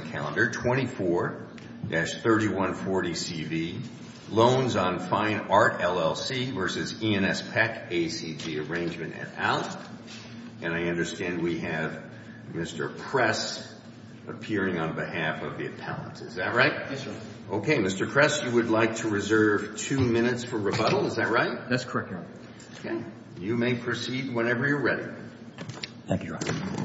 24-3140CV Loans on Fine Art LLC v E&S Peck ACG Arrangement and out. And I understand we have Mr. Press appearing on behalf of the appellants, is that right? Yes, sir. Okay, Mr. Press, you would like to reserve two minutes for rebuttal, is that right? That's correct, Your Honor. Okay, you may proceed whenever you're ready. Thank you, Your Honor.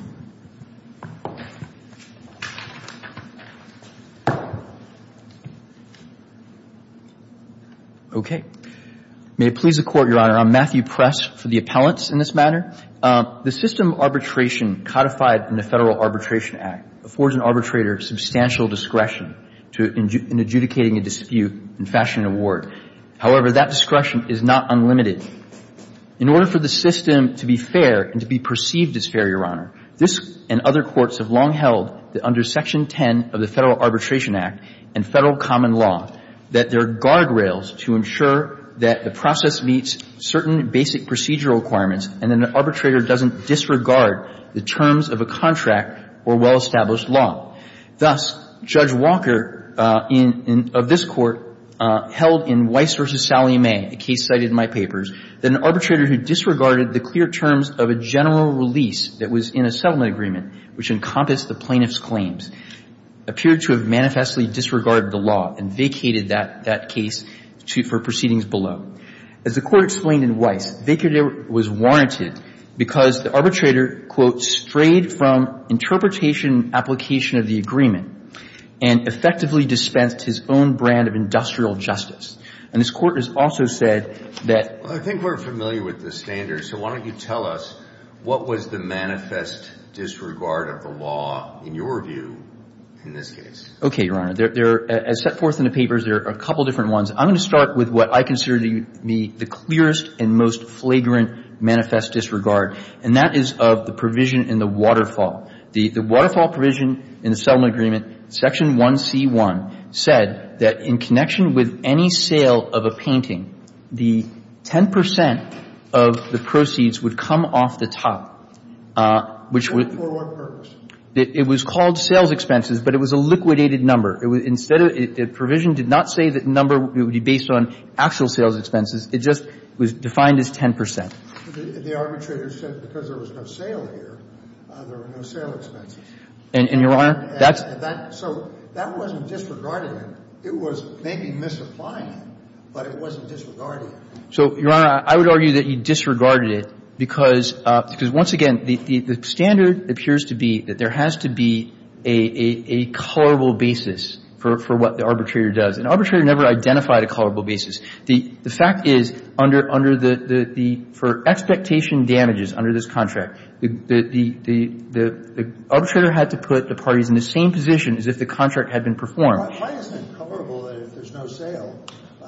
Okay. May it please the Court, Your Honor, I'm Matthew Press for the appellants in this matter. The system of arbitration codified in the Federal Arbitration Act affords an arbitrator substantial discretion in adjudicating a dispute in fashion and award. However, that discretion is not unlimited. In order for the system to be fair and to be perceived as fair, Your Honor, this and other courts have long held that under Section 10 of the Federal Arbitration Act and Federal common law that there are guardrails to ensure that the process meets certain basic procedural requirements and that an arbitrator doesn't disregard the terms of a contract or well-established law. Thus, Judge Walker of this Court held in Weiss v. Sally May, a case cited in my papers, that an arbitrator who disregarded the clear terms of a general release that was in a settlement agreement, which encompassed the plaintiff's claims, appeared to have manifestly disregarded the law and vacated that case for proceedings below. As the Court explained in Weiss, vacated was warranted because the arbitrator, quote, strayed from interpretation and application of the agreement and effectively dispensed his own brand of industrial justice. And this Court has also said that ---- Well, I think we're familiar with the standards, so why don't you tell us what was the manifest disregard of the law in your view in this case? Okay, Your Honor. As set forth in the papers, there are a couple different ones. I'm going to start with what I consider to be the clearest and most flagrant manifest disregard, and that is of the provision in the waterfall. The waterfall provision in the settlement agreement, Section 1C1, said that in connection with any sale of a painting, the 10 percent of the proceeds would come off the top. And for what purpose? It was called sales expenses, but it was a liquidated number. Instead, the provision did not say that number would be based on actual sales expenses. It just was defined as 10 percent. The arbitrator said because there was no sale here, there were no sale expenses. And, Your Honor, that's ---- So that wasn't disregarding it. It was maybe misapplying it, but it wasn't disregarding it. So, Your Honor, I would argue that you disregarded it because once again, the standard appears to be that there has to be a colorable basis for what the arbitrator does. An arbitrator never identified a colorable basis. The fact is under the ---- for expectation damages under this contract, the arbitrator had to put the parties in the same position as if the contract had been performed. Why isn't it colorable if there's no sale?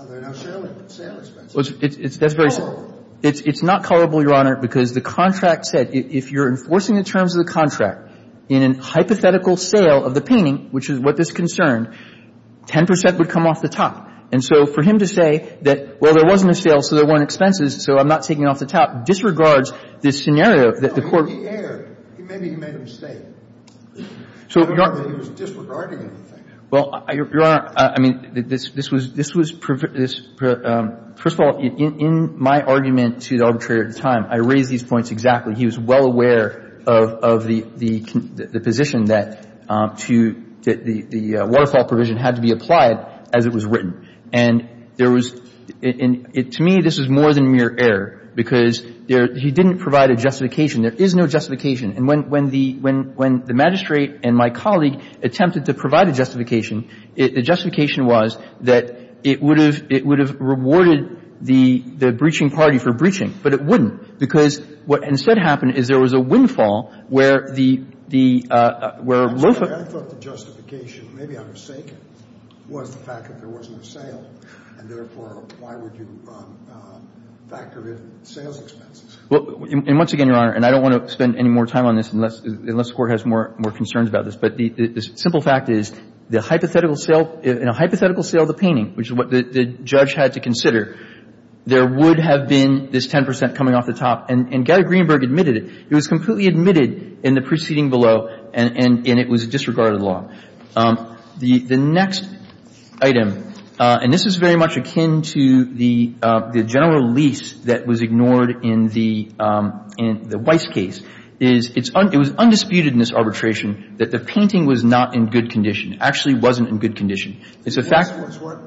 There are no sale expenses. That's very simple. It's not colorable, Your Honor, because the contract said if you're enforcing the terms of the contract in a hypothetical sale of the painting, which is what this concerned, 10 percent would come off the top. And so for him to say that, well, there wasn't a sale, so there weren't expenses, so I'm not taking it off the top, disregards this scenario that the Court ---- No, I mean, he erred. Maybe he made a mistake. So, Your Honor ---- I don't know that he was disregarding anything. Well, Your Honor, I mean, this was ---- first of all, in my argument to the arbitrator at the time, I raised these points exactly. He was well aware of the position that to ---- that the waterfall provision had to be applied as it was written. And there was ---- to me, this was more than mere error, because he didn't provide a justification. There is no justification. And when the magistrate and my colleague attempted to provide a justification, the justification was that it would have rewarded the breaching party for breaching, but it wouldn't, because what instead happened is there was a windfall where the ---- I'm sorry. I thought the justification, maybe I'm mistaken, was the fact that there wasn't a sale, and therefore, why would you factor in sales expenses? Well, and once again, Your Honor, and I don't want to spend any more time on this unless the Court has more concerns about this, but the simple fact is the hypothetical sale, in a hypothetical sale of the painting, which is what the judge had to consider, there would have been this 10 percent coming off the top. And Gary Greenberg admitted it. It was completely admitted in the preceding below, and it was a disregarded law. The next item, and this is very much akin to the general release that was ignored in the Weiss case, is it was undisputed in this arbitration that the painting was not in good condition, actually wasn't in good condition. It's a fact that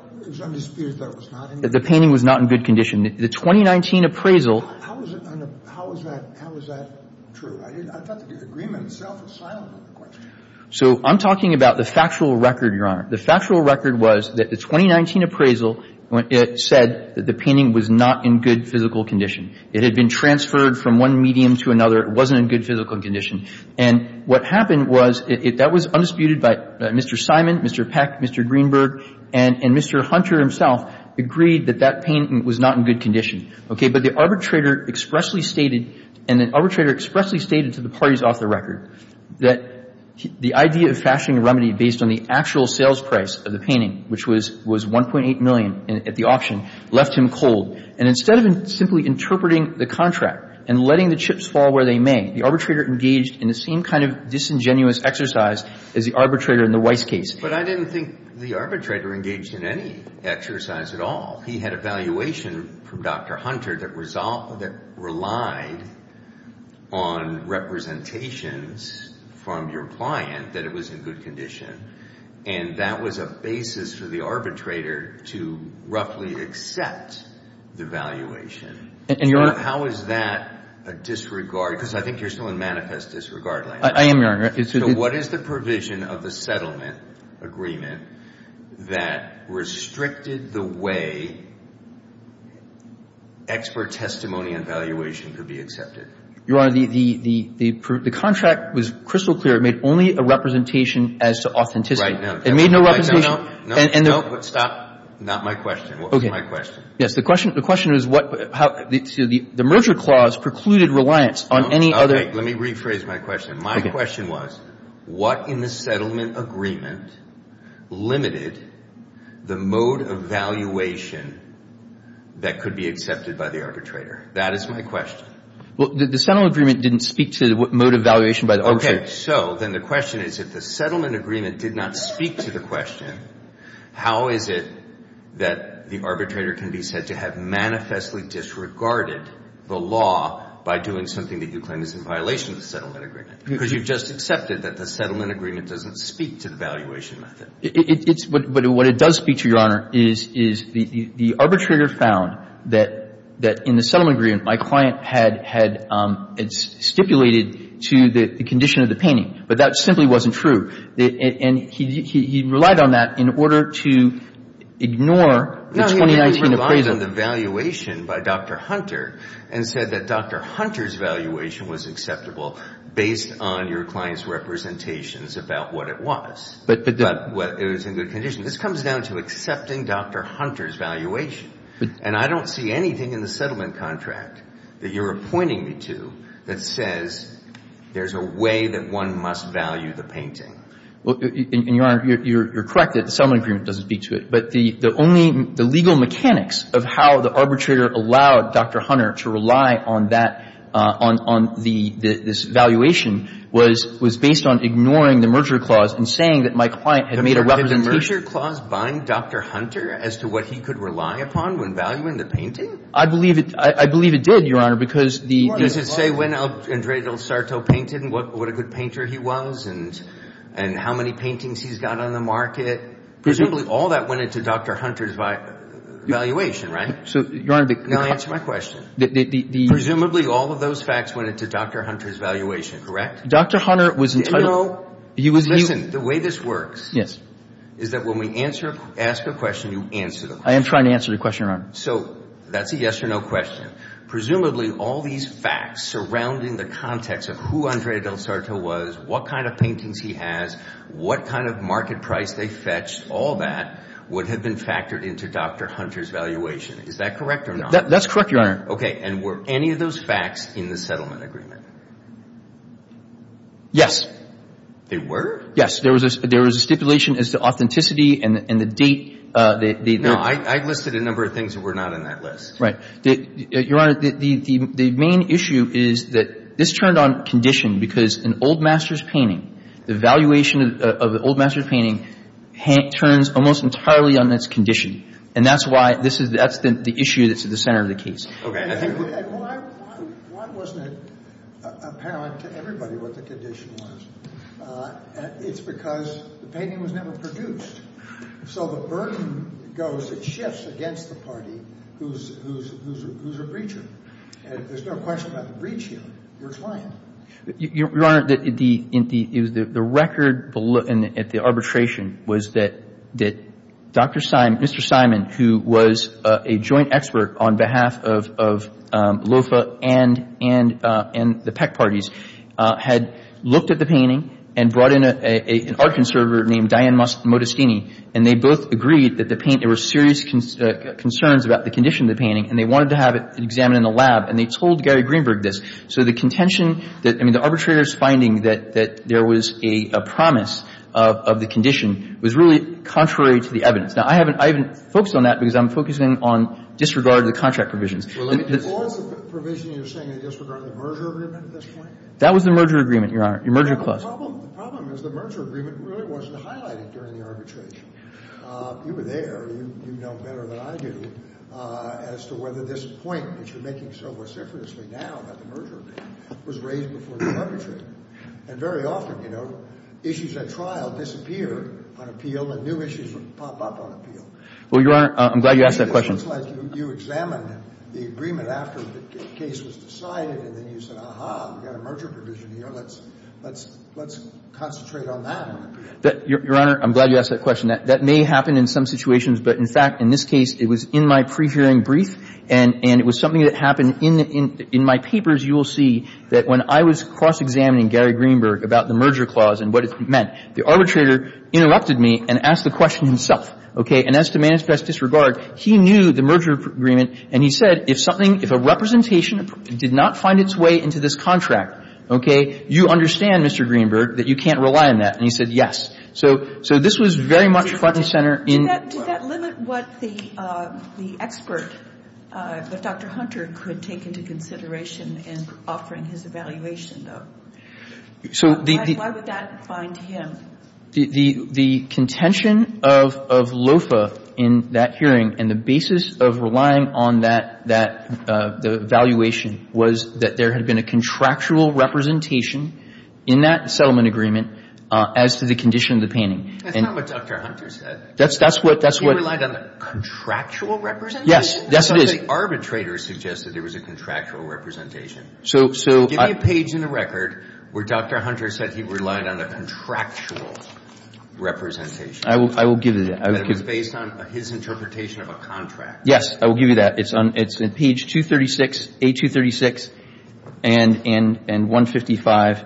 the painting was not in good condition. The 2019 appraisal ---- How was that true? I thought the agreement itself was silent in the question. So I'm talking about the factual record, Your Honor. The factual record was that the 2019 appraisal said that the painting was not in good physical condition. It had been transferred from one medium to another. It wasn't in good physical condition. And what happened was that that was undisputed by Mr. Simon, Mr. Peck, Mr. Greenberg, and Mr. Hunter himself agreed that that painting was not in good condition, okay? But the arbitrator expressly stated, and the arbitrator expressly stated to the parties off the record, that the idea of fashioning a remedy based on the actual sales price of the painting, which was 1.8 million at the auction, left him cold. And instead of simply interpreting the contract and letting the chips fall where they may, the arbitrator engaged in the same kind of disingenuous exercise as the arbitrator in the Weiss case. But I didn't think the arbitrator engaged in any exercise at all. He had a valuation from Dr. Hunter that relied on representations from your client that it was in good condition. And that was a basis for the arbitrator to roughly accept the valuation. And, Your Honor. How is that a disregard? Because I think you're still in manifest disregard right now. I am, Your Honor. So what is the provision of the settlement agreement that restricted the way expert testimony and valuation could be accepted? Your Honor, the contract was crystal clear. It made only a representation as to authenticity. It made no representation. Stop. Not my question. What was my question? Yes. The question is how the merger clause precluded reliance on any other. Okay. Let me rephrase my question. My question was, what in the settlement agreement limited the mode of valuation that could be accepted by the arbitrator? That is my question. Well, the settlement agreement didn't speak to the mode of valuation by the arbitrator. So then the question is if the settlement agreement did not speak to the question, how is it that the arbitrator can be said to have manifestly disregarded the law by doing something that you claim is in violation of the settlement agreement? Because you've just accepted that the settlement agreement doesn't speak to the valuation method. It's what it does speak to, Your Honor, is the arbitrator found that in the settlement agreement my client had stipulated to the condition of the painting. But that simply wasn't true. And he relied on that in order to ignore the 2019 appraisal. No, he relied on the valuation by Dr. Hunter and said that Dr. Hunter's valuation was acceptable based on your client's representations about what it was. But it was in good condition. This comes down to accepting Dr. Hunter's valuation. And I don't see anything in the settlement contract that you're appointing me to that says there's a way that one must value the painting. And, Your Honor, you're correct that the settlement agreement doesn't speak to it. But the only – the legal mechanics of how the arbitrator allowed Dr. Hunter to rely on that – on the – this valuation was based on ignoring the merger clause and saying that my client had made a representation. Did the merger clause bind Dr. Hunter as to what he could rely upon when valuing the painting? I believe it – I believe it did, Your Honor, because the – Does it say when Andrei Del Sarto painted and what a good painter he was and how many paintings he's got on the market? Presumably all that went into Dr. Hunter's valuation, right? So, Your Honor, the – Now answer my question. The – Presumably all of those facts went into Dr. Hunter's valuation, correct? Dr. Hunter was entitled – Did you know – He was – Listen. The way this works – Is that when we answer – ask a question, you answer the question. I am trying to answer the question, Your Honor. So that's a yes or no question. Presumably all these facts surrounding the context of who Andrei Del Sarto was, what kind of paintings he has, what kind of market price they fetched, all that would have been factored into Dr. Hunter's valuation. Is that correct or not? That's correct, Your Honor. Okay. And were any of those facts in the settlement agreement? Yes. They were? Yes. There was a stipulation as to authenticity and the date they – No. I listed a number of things that were not in that list. Right. Your Honor, the main issue is that this turned on condition because an old master's painting, the valuation of an old master's painting turns almost entirely on its condition. And that's why this is – that's the issue that's at the center of the case. Okay. And why wasn't it apparent to everybody what the condition was? It's because the painting was never produced. So the burden goes – it shifts against the party who's a breacher. And there's no question about the breach here. You're trying. Your Honor, the record at the arbitration was that Dr. – Mr. Simon, who was a joint expert on behalf of LOFA and the Peck parties, had looked at the painting and brought in an art conservator named Diane Modestini, and they both agreed that the paint – there were serious concerns about the condition of the painting, and they wanted to have it examined in the lab. And they told Gary Greenberg this. So the contention that – I mean, the arbitrator's finding that there was a promise of the condition was really contrary to the evidence. Now, I haven't – I haven't focused on that because I'm focusing on disregard of the contract provisions. Well, let me – All the provisions you're saying are disregarding the merger agreement at this point? That was the merger agreement, Your Honor. Your merger clause. Well, the problem – the problem is the merger agreement really wasn't highlighted during the arbitration. You were there. You know better than I do as to whether this point that you're making so vociferously now about the merger agreement was raised before the arbitration. And very often, you know, issues at trial disappear on appeal, and new issues pop up on appeal. Well, Your Honor, I'm glad you asked that question. It seems like you examined the agreement after the case was decided, and then you said, aha, we've got a merger provision here. Let's – let's concentrate on that on appeal. Your Honor, I'm glad you asked that question. That may happen in some situations, but in fact, in this case, it was in my pre-hearing brief, and it was something that happened in my papers, you will see, that when I was cross-examining Gary Greenberg about the merger clause and what it meant, the arbitrator interrupted me and asked the question himself, okay? And as to manifest disregard, he knew the merger agreement, and he said, if something – if a representation did not find its way into this contract, okay, you understand, Mr. Greenberg, that you can't rely on that. And he said yes. So this was very much front and center in court. Did that – did that limit what the expert, Dr. Hunter, could take into consideration in offering his evaluation, though? So the – Why would that find him? The contention of LOFA in that hearing and the basis of relying on that – that evaluation was that there had been a contractual representation in that settlement agreement as to the condition of the painting. That's not what Dr. Hunter said. That's what – that's what – He relied on the contractual representation? Yes. Yes, it is. Because the arbitrator suggested there was a contractual representation. So – so – Give me a page in the record where Dr. Hunter said he relied on a contractual representation. I will – I will give you that. That it was based on his interpretation of a contract. Yes. I will give you that. It's on – it's on page 236, A236 and – and 155.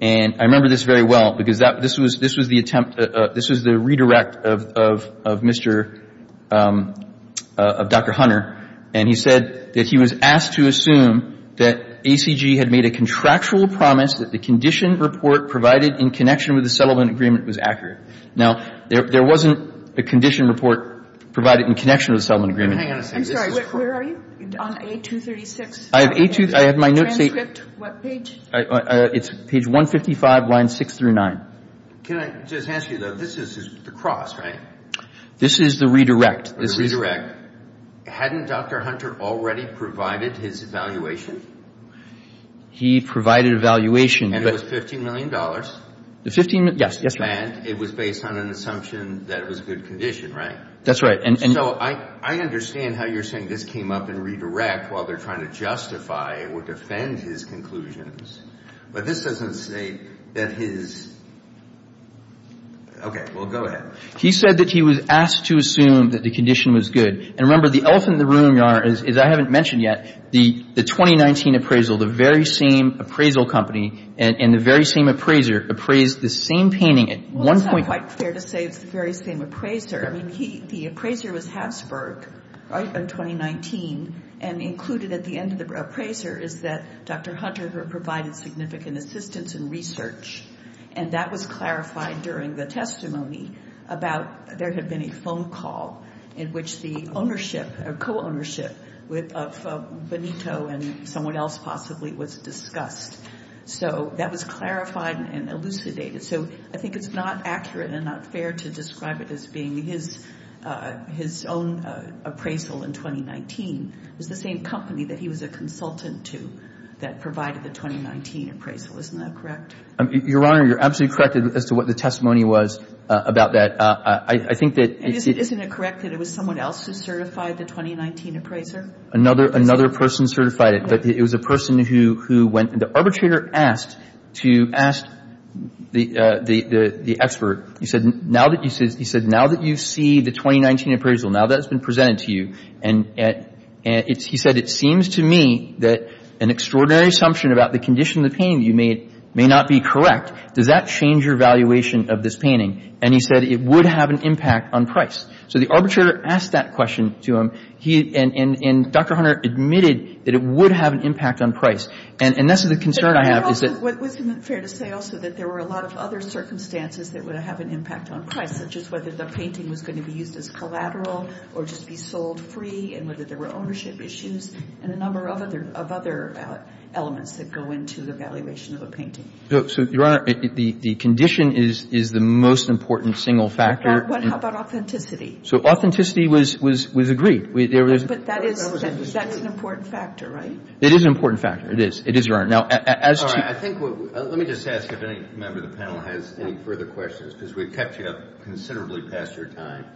And I remember this very well because that – this was – this was the attempt – this was the redirect of – of – of Mr. – of Dr. Hunter. And he said that he was asked to assume that ACG had made a contractual promise that the condition report provided in connection with the settlement agreement was accurate. Now, there – there wasn't a condition report provided in connection with the settlement agreement. Hang on a second. I'm sorry. Where are you? On A236. I have A236. I have my notes. Transcript. What page? It's page 155, lines 6 through 9. Can I just ask you, though, this is the cross, right? This is the redirect. Hadn't Dr. Hunter already provided his evaluation? He provided evaluation, but – And it was $15 million. The 15 – yes. Yes, Your Honor. And it was based on an assumption that it was a good condition, right? That's right. So I – I understand how you're saying this came up in redirect while they're trying to justify or defend his conclusions. But this doesn't say that his – okay. Well, go ahead. He said that he was asked to assume that the condition was good. And remember, the elephant in the room, Your Honor, is I haven't mentioned yet, the 2019 appraisal, the very same appraisal company and the very same appraiser appraised the same painting at one point. Well, it's not quite fair to say it's the very same appraiser. I mean, he – the appraiser was Habsburg, right, in 2019. And included at the end of the appraiser is that Dr. Hunter provided significant assistance and research. And that was clarified during the testimony about there had been a phone call in which the ownership or co-ownership of Benito and someone else possibly was discussed. So that was clarified and elucidated. So I think it's not accurate and not fair to describe it as being his own appraisal in 2019. It was the same company that he was a consultant to that provided the 2019 appraisal. Isn't that correct? Your Honor, you're absolutely correct as to what the testimony was about that. I think that it's – Isn't it correct that it was someone else who certified the 2019 appraiser? Another person certified it. But it was a person who went – the arbitrator asked the expert. He said, now that you see the 2019 appraisal, now that it's been presented to you, and he said, it seems to me that an extraordinary assumption about the condition of the painting you made may not be correct. Does that change your valuation of this painting? And he said it would have an impact on price. So the arbitrator asked that question to him. And Dr. Hunter admitted that it would have an impact on price. And that's the concern I have is that – But also, wasn't it fair to say also that there were a lot of other circumstances that would have an impact on price, such as whether the painting was going to be used as collateral or just be sold free and whether there were ownership issues and a number of other elements that go into the valuation of a painting? So, Your Honor, the condition is the most important single factor. How about authenticity? So authenticity was agreed. But that is – that's an important factor, right? It is an important factor. It is, Your Honor. Now, as to – All right. Let me just ask if any member of the panel has any further questions because we've kept you up considerably past your time.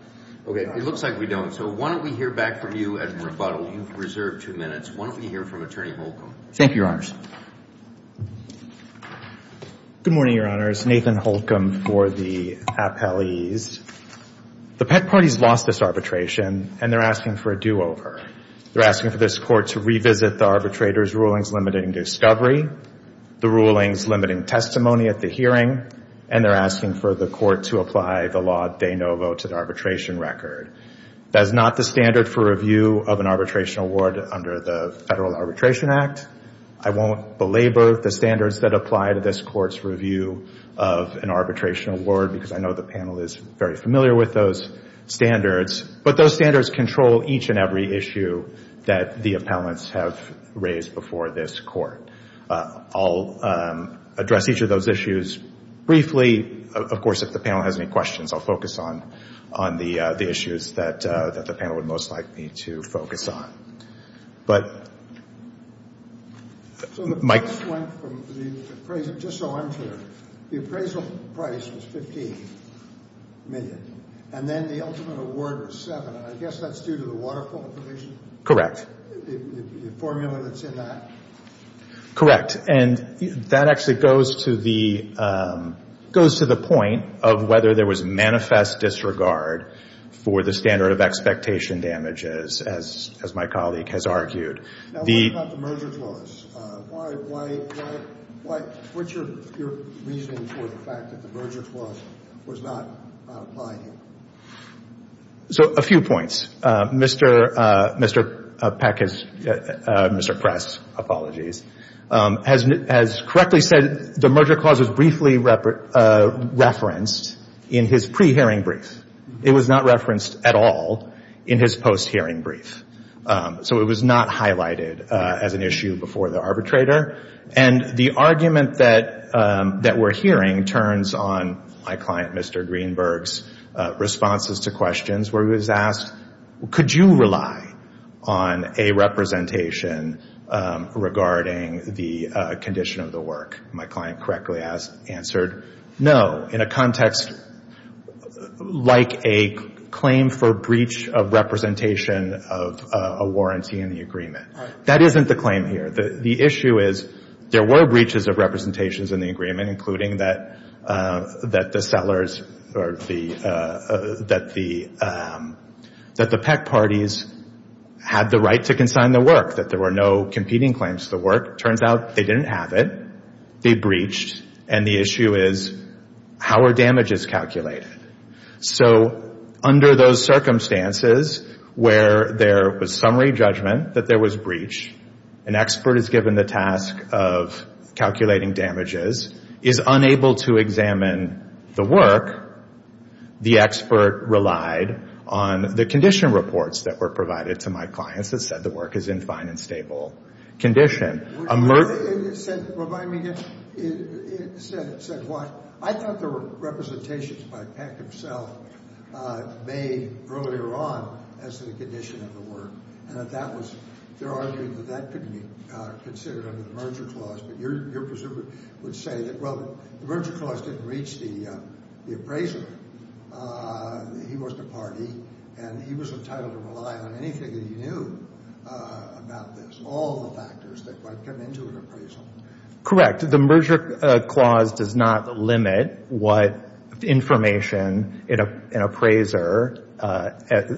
Okay. It looks like we don't. So why don't we hear back from you as a rebuttal? You've reserved two minutes. Why don't we hear from Attorney Holcomb? Thank you, Your Honors. Good morning, Your Honors. Nathan Holcomb for the appellees. The pet parties lost this arbitration, and they're asking for a do-over. They're asking for this court to revisit the arbitrator's rulings limiting discovery, the rulings limiting testimony at the hearing, and they're asking for the court to apply the law de novo to the arbitration record. That is not the standard for review of an arbitration award under the Federal Arbitration Act. I won't belabor the standards that apply to this court's review of an arbitration award because I know the panel is very familiar with those standards, but those standards control each and every issue that the appellants have raised before this court. I'll address each of those issues briefly. Of course, if the panel has any questions, I'll focus on the issues that the panel would most like me to focus on. So the price went from the appraisal just so I'm clear. The appraisal price was $15 million, and then the ultimate award was $7 million. I guess that's due to the waterfall provision? Correct. The formula that's in that? Correct. And that actually goes to the point of whether there was manifest disregard for the standard of expectation damages, as my colleague has argued. Now, what about the merger clause? Why — what's your reasoning for the fact that the merger clause was not applied here? So a few points. Mr. Peck has — Mr. Press, apologies — has correctly said the merger clause was briefly referenced in his pre-hearing brief. It was not referenced at all in his post-hearing brief. So it was not highlighted as an issue before the arbitrator. And the argument that we're hearing turns on my client, Mr. Greenberg's, responses to questions where he was asked, could you rely on a representation regarding the condition of the work? My client correctly has answered, no, in a context like a claim for breach of representation of a warranty in the agreement. That isn't the claim here. The issue is there were breaches of representations in the agreement, including that the sellers or the — that the Peck parties had the right to consign the work, that there were no competing claims to the work. Turns out they didn't have it. They breached. And the issue is, how are damages calculated? So under those circumstances where there was summary judgment that there was breach, an expert is given the task of calculating damages, is unable to examine the work, the expert relied on the condition reports that were provided to my clients that said the work is in fine and stable condition. It said what? I thought there were representations by Peck himself made earlier on as to the condition of the work. And that was — they're arguing that that couldn't be considered under the merger clause. But your preserver would say that, well, the merger clause didn't reach the appraiser. He was the party, and he was entitled to rely on anything that he knew about this, all the factors that might come into an appraisal. Correct. The merger clause does not limit what information an appraiser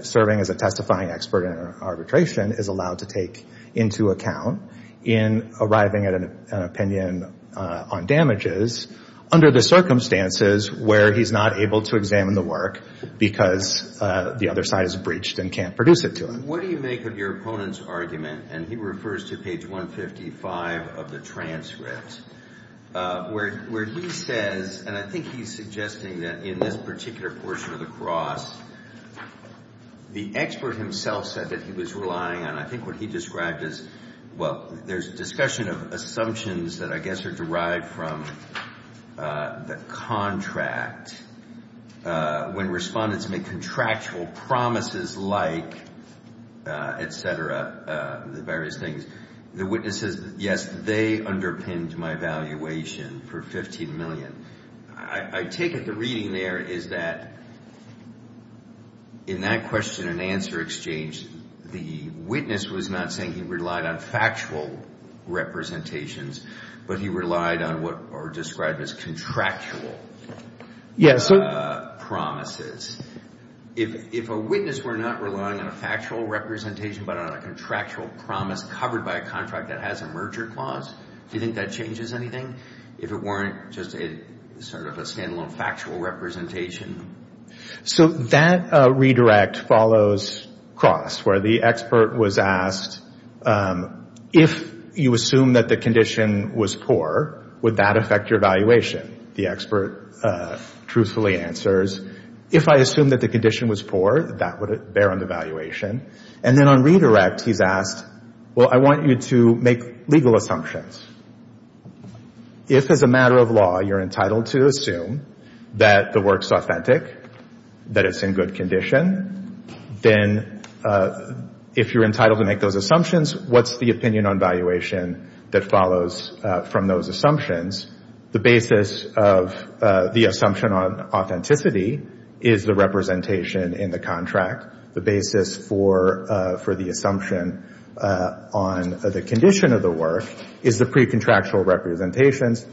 serving as a testifying expert in arbitration is allowed to take into account in arriving at an opinion on damages under the circumstances where he's not able to examine the work because the other side has breached and can't produce it to him. What do you make of your opponent's argument, and he refers to page 155 of the transcript, where he says, and I think he's suggesting that in this particular portion of the cross, the expert himself said that he was relying on, I think what he described as — assumptions that I guess are derived from the contract. When respondents make contractual promises like, et cetera, the various things, the witness says, yes, they underpinned my valuation for $15 million. I take it the reading there is that in that question-and-answer exchange, the witness was not saying he relied on factual representations, but he relied on what are described as contractual promises. If a witness were not relying on a factual representation but on a contractual promise covered by a contract that has a merger clause, do you think that changes anything if it weren't just sort of a stand-alone factual representation? So that redirect follows cross, where the expert was asked, if you assume that the condition was poor, would that affect your valuation? The expert truthfully answers, if I assume that the condition was poor, that would bear on the valuation. And then on redirect, he's asked, well, I want you to make legal assumptions. If, as a matter of law, you're entitled to assume that the work's authentic, that it's in good condition, then if you're entitled to make those assumptions, what's the opinion on valuation that follows from those assumptions? The basis of the assumption on authenticity is the representation in the contract. The basis for the assumption on the condition of the work is the precontractual representations.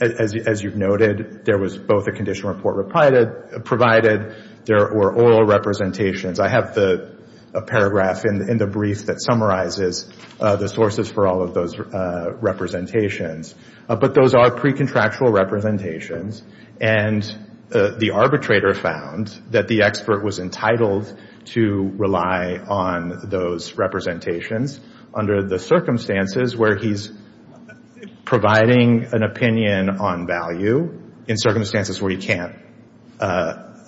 As you've noted, there was both a condition report provided. There were oral representations. I have a paragraph in the brief that summarizes the sources for all of those representations. But those are precontractual representations. And the arbitrator found that the expert was entitled to rely on those representations under the circumstances where he's providing an opinion on value, in circumstances where he can't have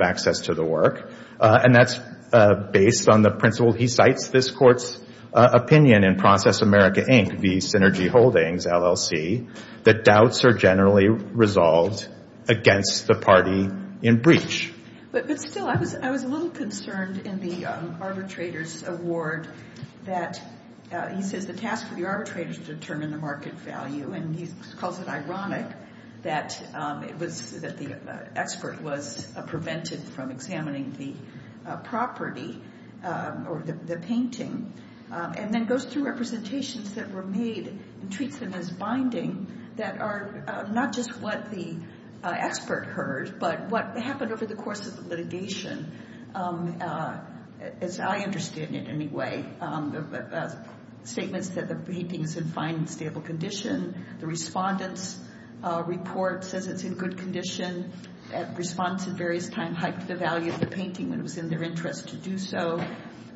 access to the work. And that's based on the principle. He cites this court's opinion in Process America, Inc., v. Synergy Holdings, LLC, that doubts are generally resolved against the party in breach. But still, I was a little concerned in the arbitrator's award that he says the task of the arbitrator is to determine the market value. And he calls it ironic that the expert was prevented from examining the property or the painting and then goes through representations that were made and treats them as binding that are not just what the expert heard, but what happened over the course of the litigation, as I understand it anyway. Statements that the painting is in fine and stable condition. The respondent's report says it's in good condition. Respondents at various times hiked the value of the painting when it was in their interest to do so.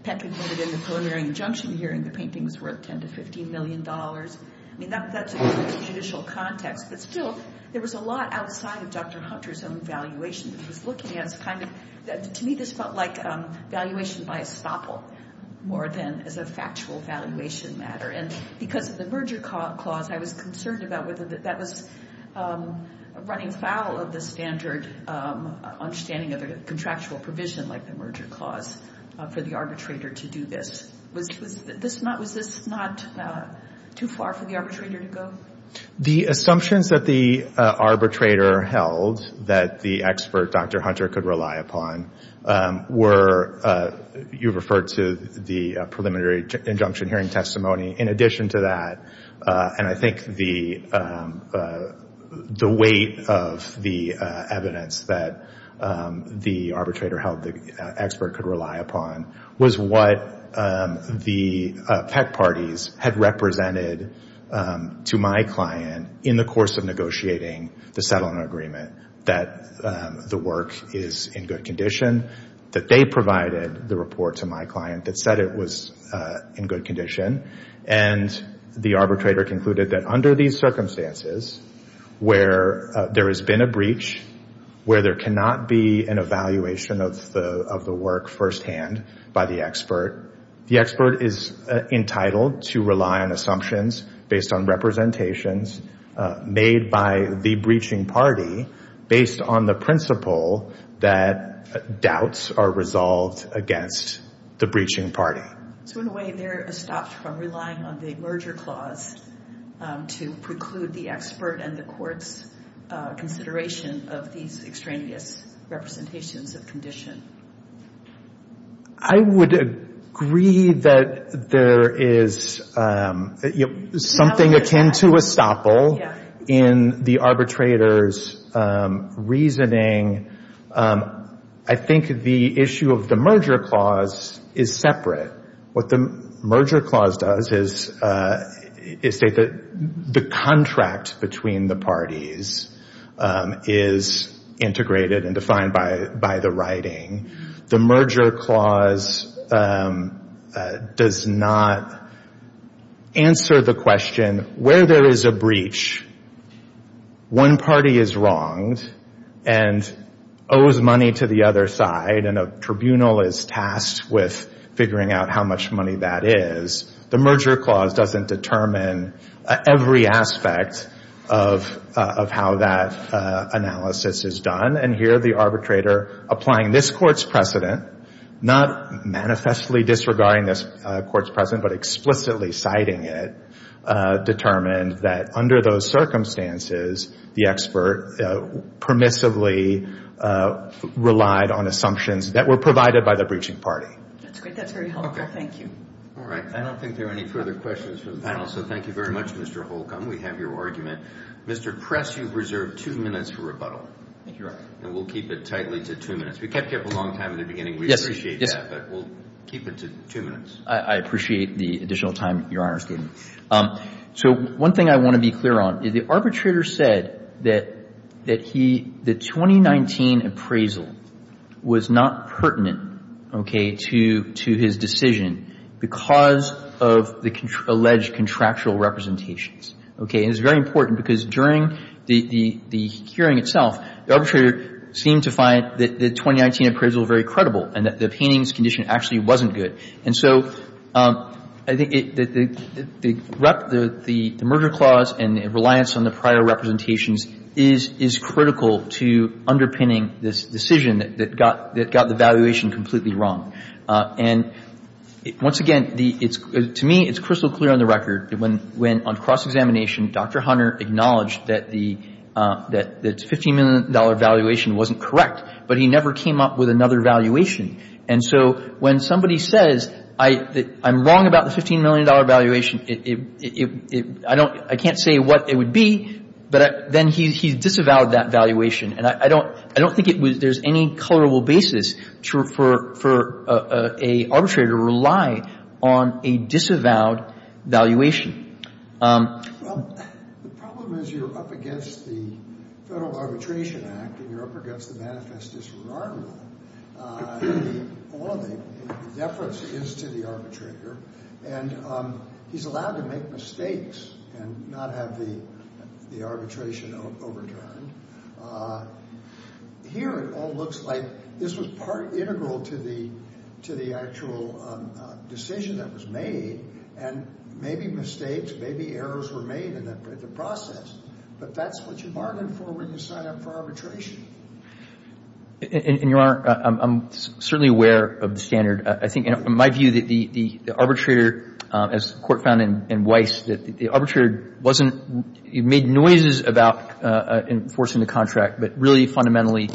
Pat concluded in the preliminary injunction hearing the painting was worth $10 million to $15 million. I mean, that's a judicial context. But still, there was a lot outside of Dr. Hunter's own valuation that he was looking at. To me, this felt like valuation by estoppel more than as a factual valuation matter. And because of the merger clause, I was concerned about whether that was running foul of the standard understanding of a contractual provision like the merger clause for the arbitrator to do this. Was this not too far for the arbitrator to go? The assumptions that the arbitrator held that the expert, Dr. Hunter, could rely upon were, you referred to the preliminary injunction hearing testimony. In addition to that, and I think the weight of the evidence that the arbitrator held the expert could rely upon, was what the PEC parties had represented to my client in the course of negotiating the settlement agreement, that the work is in good condition, that they provided the report to my client that said it was in good condition. And the arbitrator concluded that under these circumstances, where there has been a breach, where there cannot be an evaluation of the work firsthand by the expert, the expert is entitled to rely on assumptions based on representations made by the breaching party based on the principle that doubts are resolved against the breaching party. So in a way, they're estopped from relying on the merger clause to preclude the expert and the court's consideration of these extraneous representations of condition. I would agree that there is something akin to estoppel in the arbitrator's reasoning. I think the issue of the merger clause is separate. What the merger clause does is state that the contract between the parties is integrated and defined by the writing. The merger clause does not answer the question, where there is a breach, one party is wronged and owes money to the other side, and a tribunal is tasked with figuring out how much money that is. The merger clause doesn't determine every aspect of how that analysis is done. And here, the arbitrator, applying this court's precedent, not manifestly disregarding this court's precedent but explicitly citing it, determined that under those circumstances, the expert permissively relied on assumptions that were provided by the breaching party. That's great. That's very helpful. Thank you. All right. I don't think there are any further questions from the panel, so thank you very much, Mr. Holcomb. We have your argument. Mr. Press, you've reserved two minutes for rebuttal. Thank you, Your Honor. And we'll keep it tightly to two minutes. We kept you up a long time in the beginning. We appreciate that, but we'll keep it to two minutes. I appreciate the additional time, Your Honor's giving. So one thing I want to be clear on is the arbitrator said that he, the 2019 appraisal was not pertinent, okay, to his decision because of the alleged contractual representations. Okay. And it's very important because during the hearing itself, the arbitrator seemed to find the 2019 appraisal very credible and that the painting's condition actually wasn't good. And so I think the merger clause and reliance on the prior representations is critical to underpinning this decision that got the valuation completely wrong. And once again, to me, it's crystal clear on the record that when on cross-examination, Dr. Hunter acknowledged that the $15 million valuation wasn't correct, but he never came up with another valuation. And so when somebody says I'm wrong about the $15 million valuation, I can't say what it would be, but then he disavowed that valuation. And I don't think there's any colorable basis for an arbitrator to rely on a disavowed valuation. Well, the problem is you're up against the Federal Arbitration Act and you're up against the manifest disregard law. All of the deference is to the arbitrator, and he's allowed to make mistakes and not have the arbitration overturned. Here it all looks like this was part integral to the actual decision that was made, and maybe mistakes, maybe errors were made in the process, but that's what you bargain for when you sign up for arbitration. And, Your Honor, I'm certainly aware of the standard. I think in my view that the arbitrator, as the Court found in Weiss, that the arbitrator wasn't made noises about enforcing the contract, but really fundamentally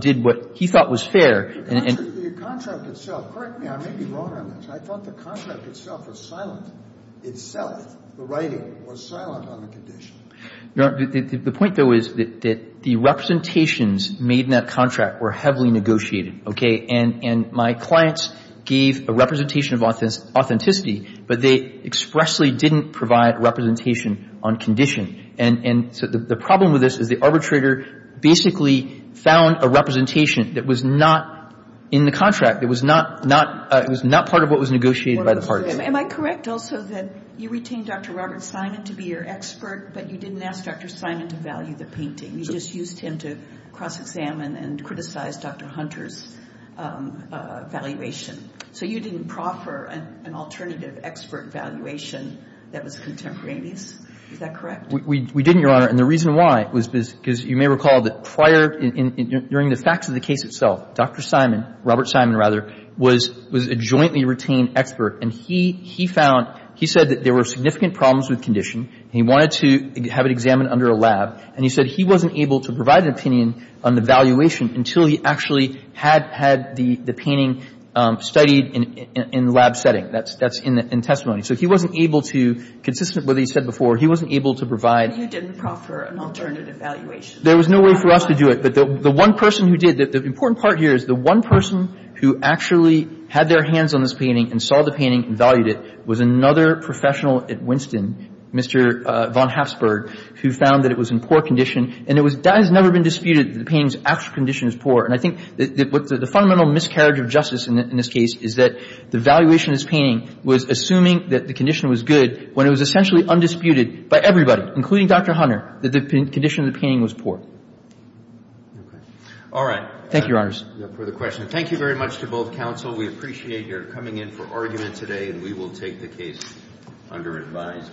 did what he thought was fair. The contract itself. Correct me. I may be wrong on this. I thought the contract itself was silent. Itself, the writing was silent on the condition. Your Honor, the point, though, is that the representations made in that contract were heavily negotiated, okay? And my clients gave a representation of authenticity, but they expressly didn't provide representation on condition. And so the problem with this is the arbitrator basically found a representation that was not in the contract, that was not part of what was negotiated by the parties. Am I correct also that you retained Dr. Robert Simon to be your expert, but you didn't ask Dr. Simon to value the painting? You just used him to cross-examine and criticize Dr. Hunter's valuation. So you didn't proffer an alternative expert valuation that was contemporaneous. Is that correct? We didn't, Your Honor. And the reason why was because you may recall that prior, during the facts of the case itself, Dr. Simon, Robert Simon rather, was a jointly retained expert, and he found, he said that there were significant problems with condition, and he wanted to have it examined under a lab. And he said he wasn't able to provide an opinion on the valuation until he actually had had the painting studied in the lab setting. That's in testimony. So he wasn't able to, consistent with what he said before, he wasn't able to provide And you didn't proffer an alternative valuation. There was no way for us to do it. But the one person who did, the important part here is the one person who actually had their hands on this painting and saw the painting and valued it was another professional at Winston, Mr. von Hapsburg, who found that it was in poor condition. And it was, that has never been disputed, that the painting's actual condition is poor. And I think that what the fundamental miscarriage of justice in this case is that the valuation of this painting was assuming that the condition was good when it was essentially undisputed by everybody, including Dr. Hunter, that the condition of the painting was poor. All right. Thank you, Your Honors. No further questions. Thank you very much to both counsel. We appreciate your coming in for argument today, and we will take the case under advice.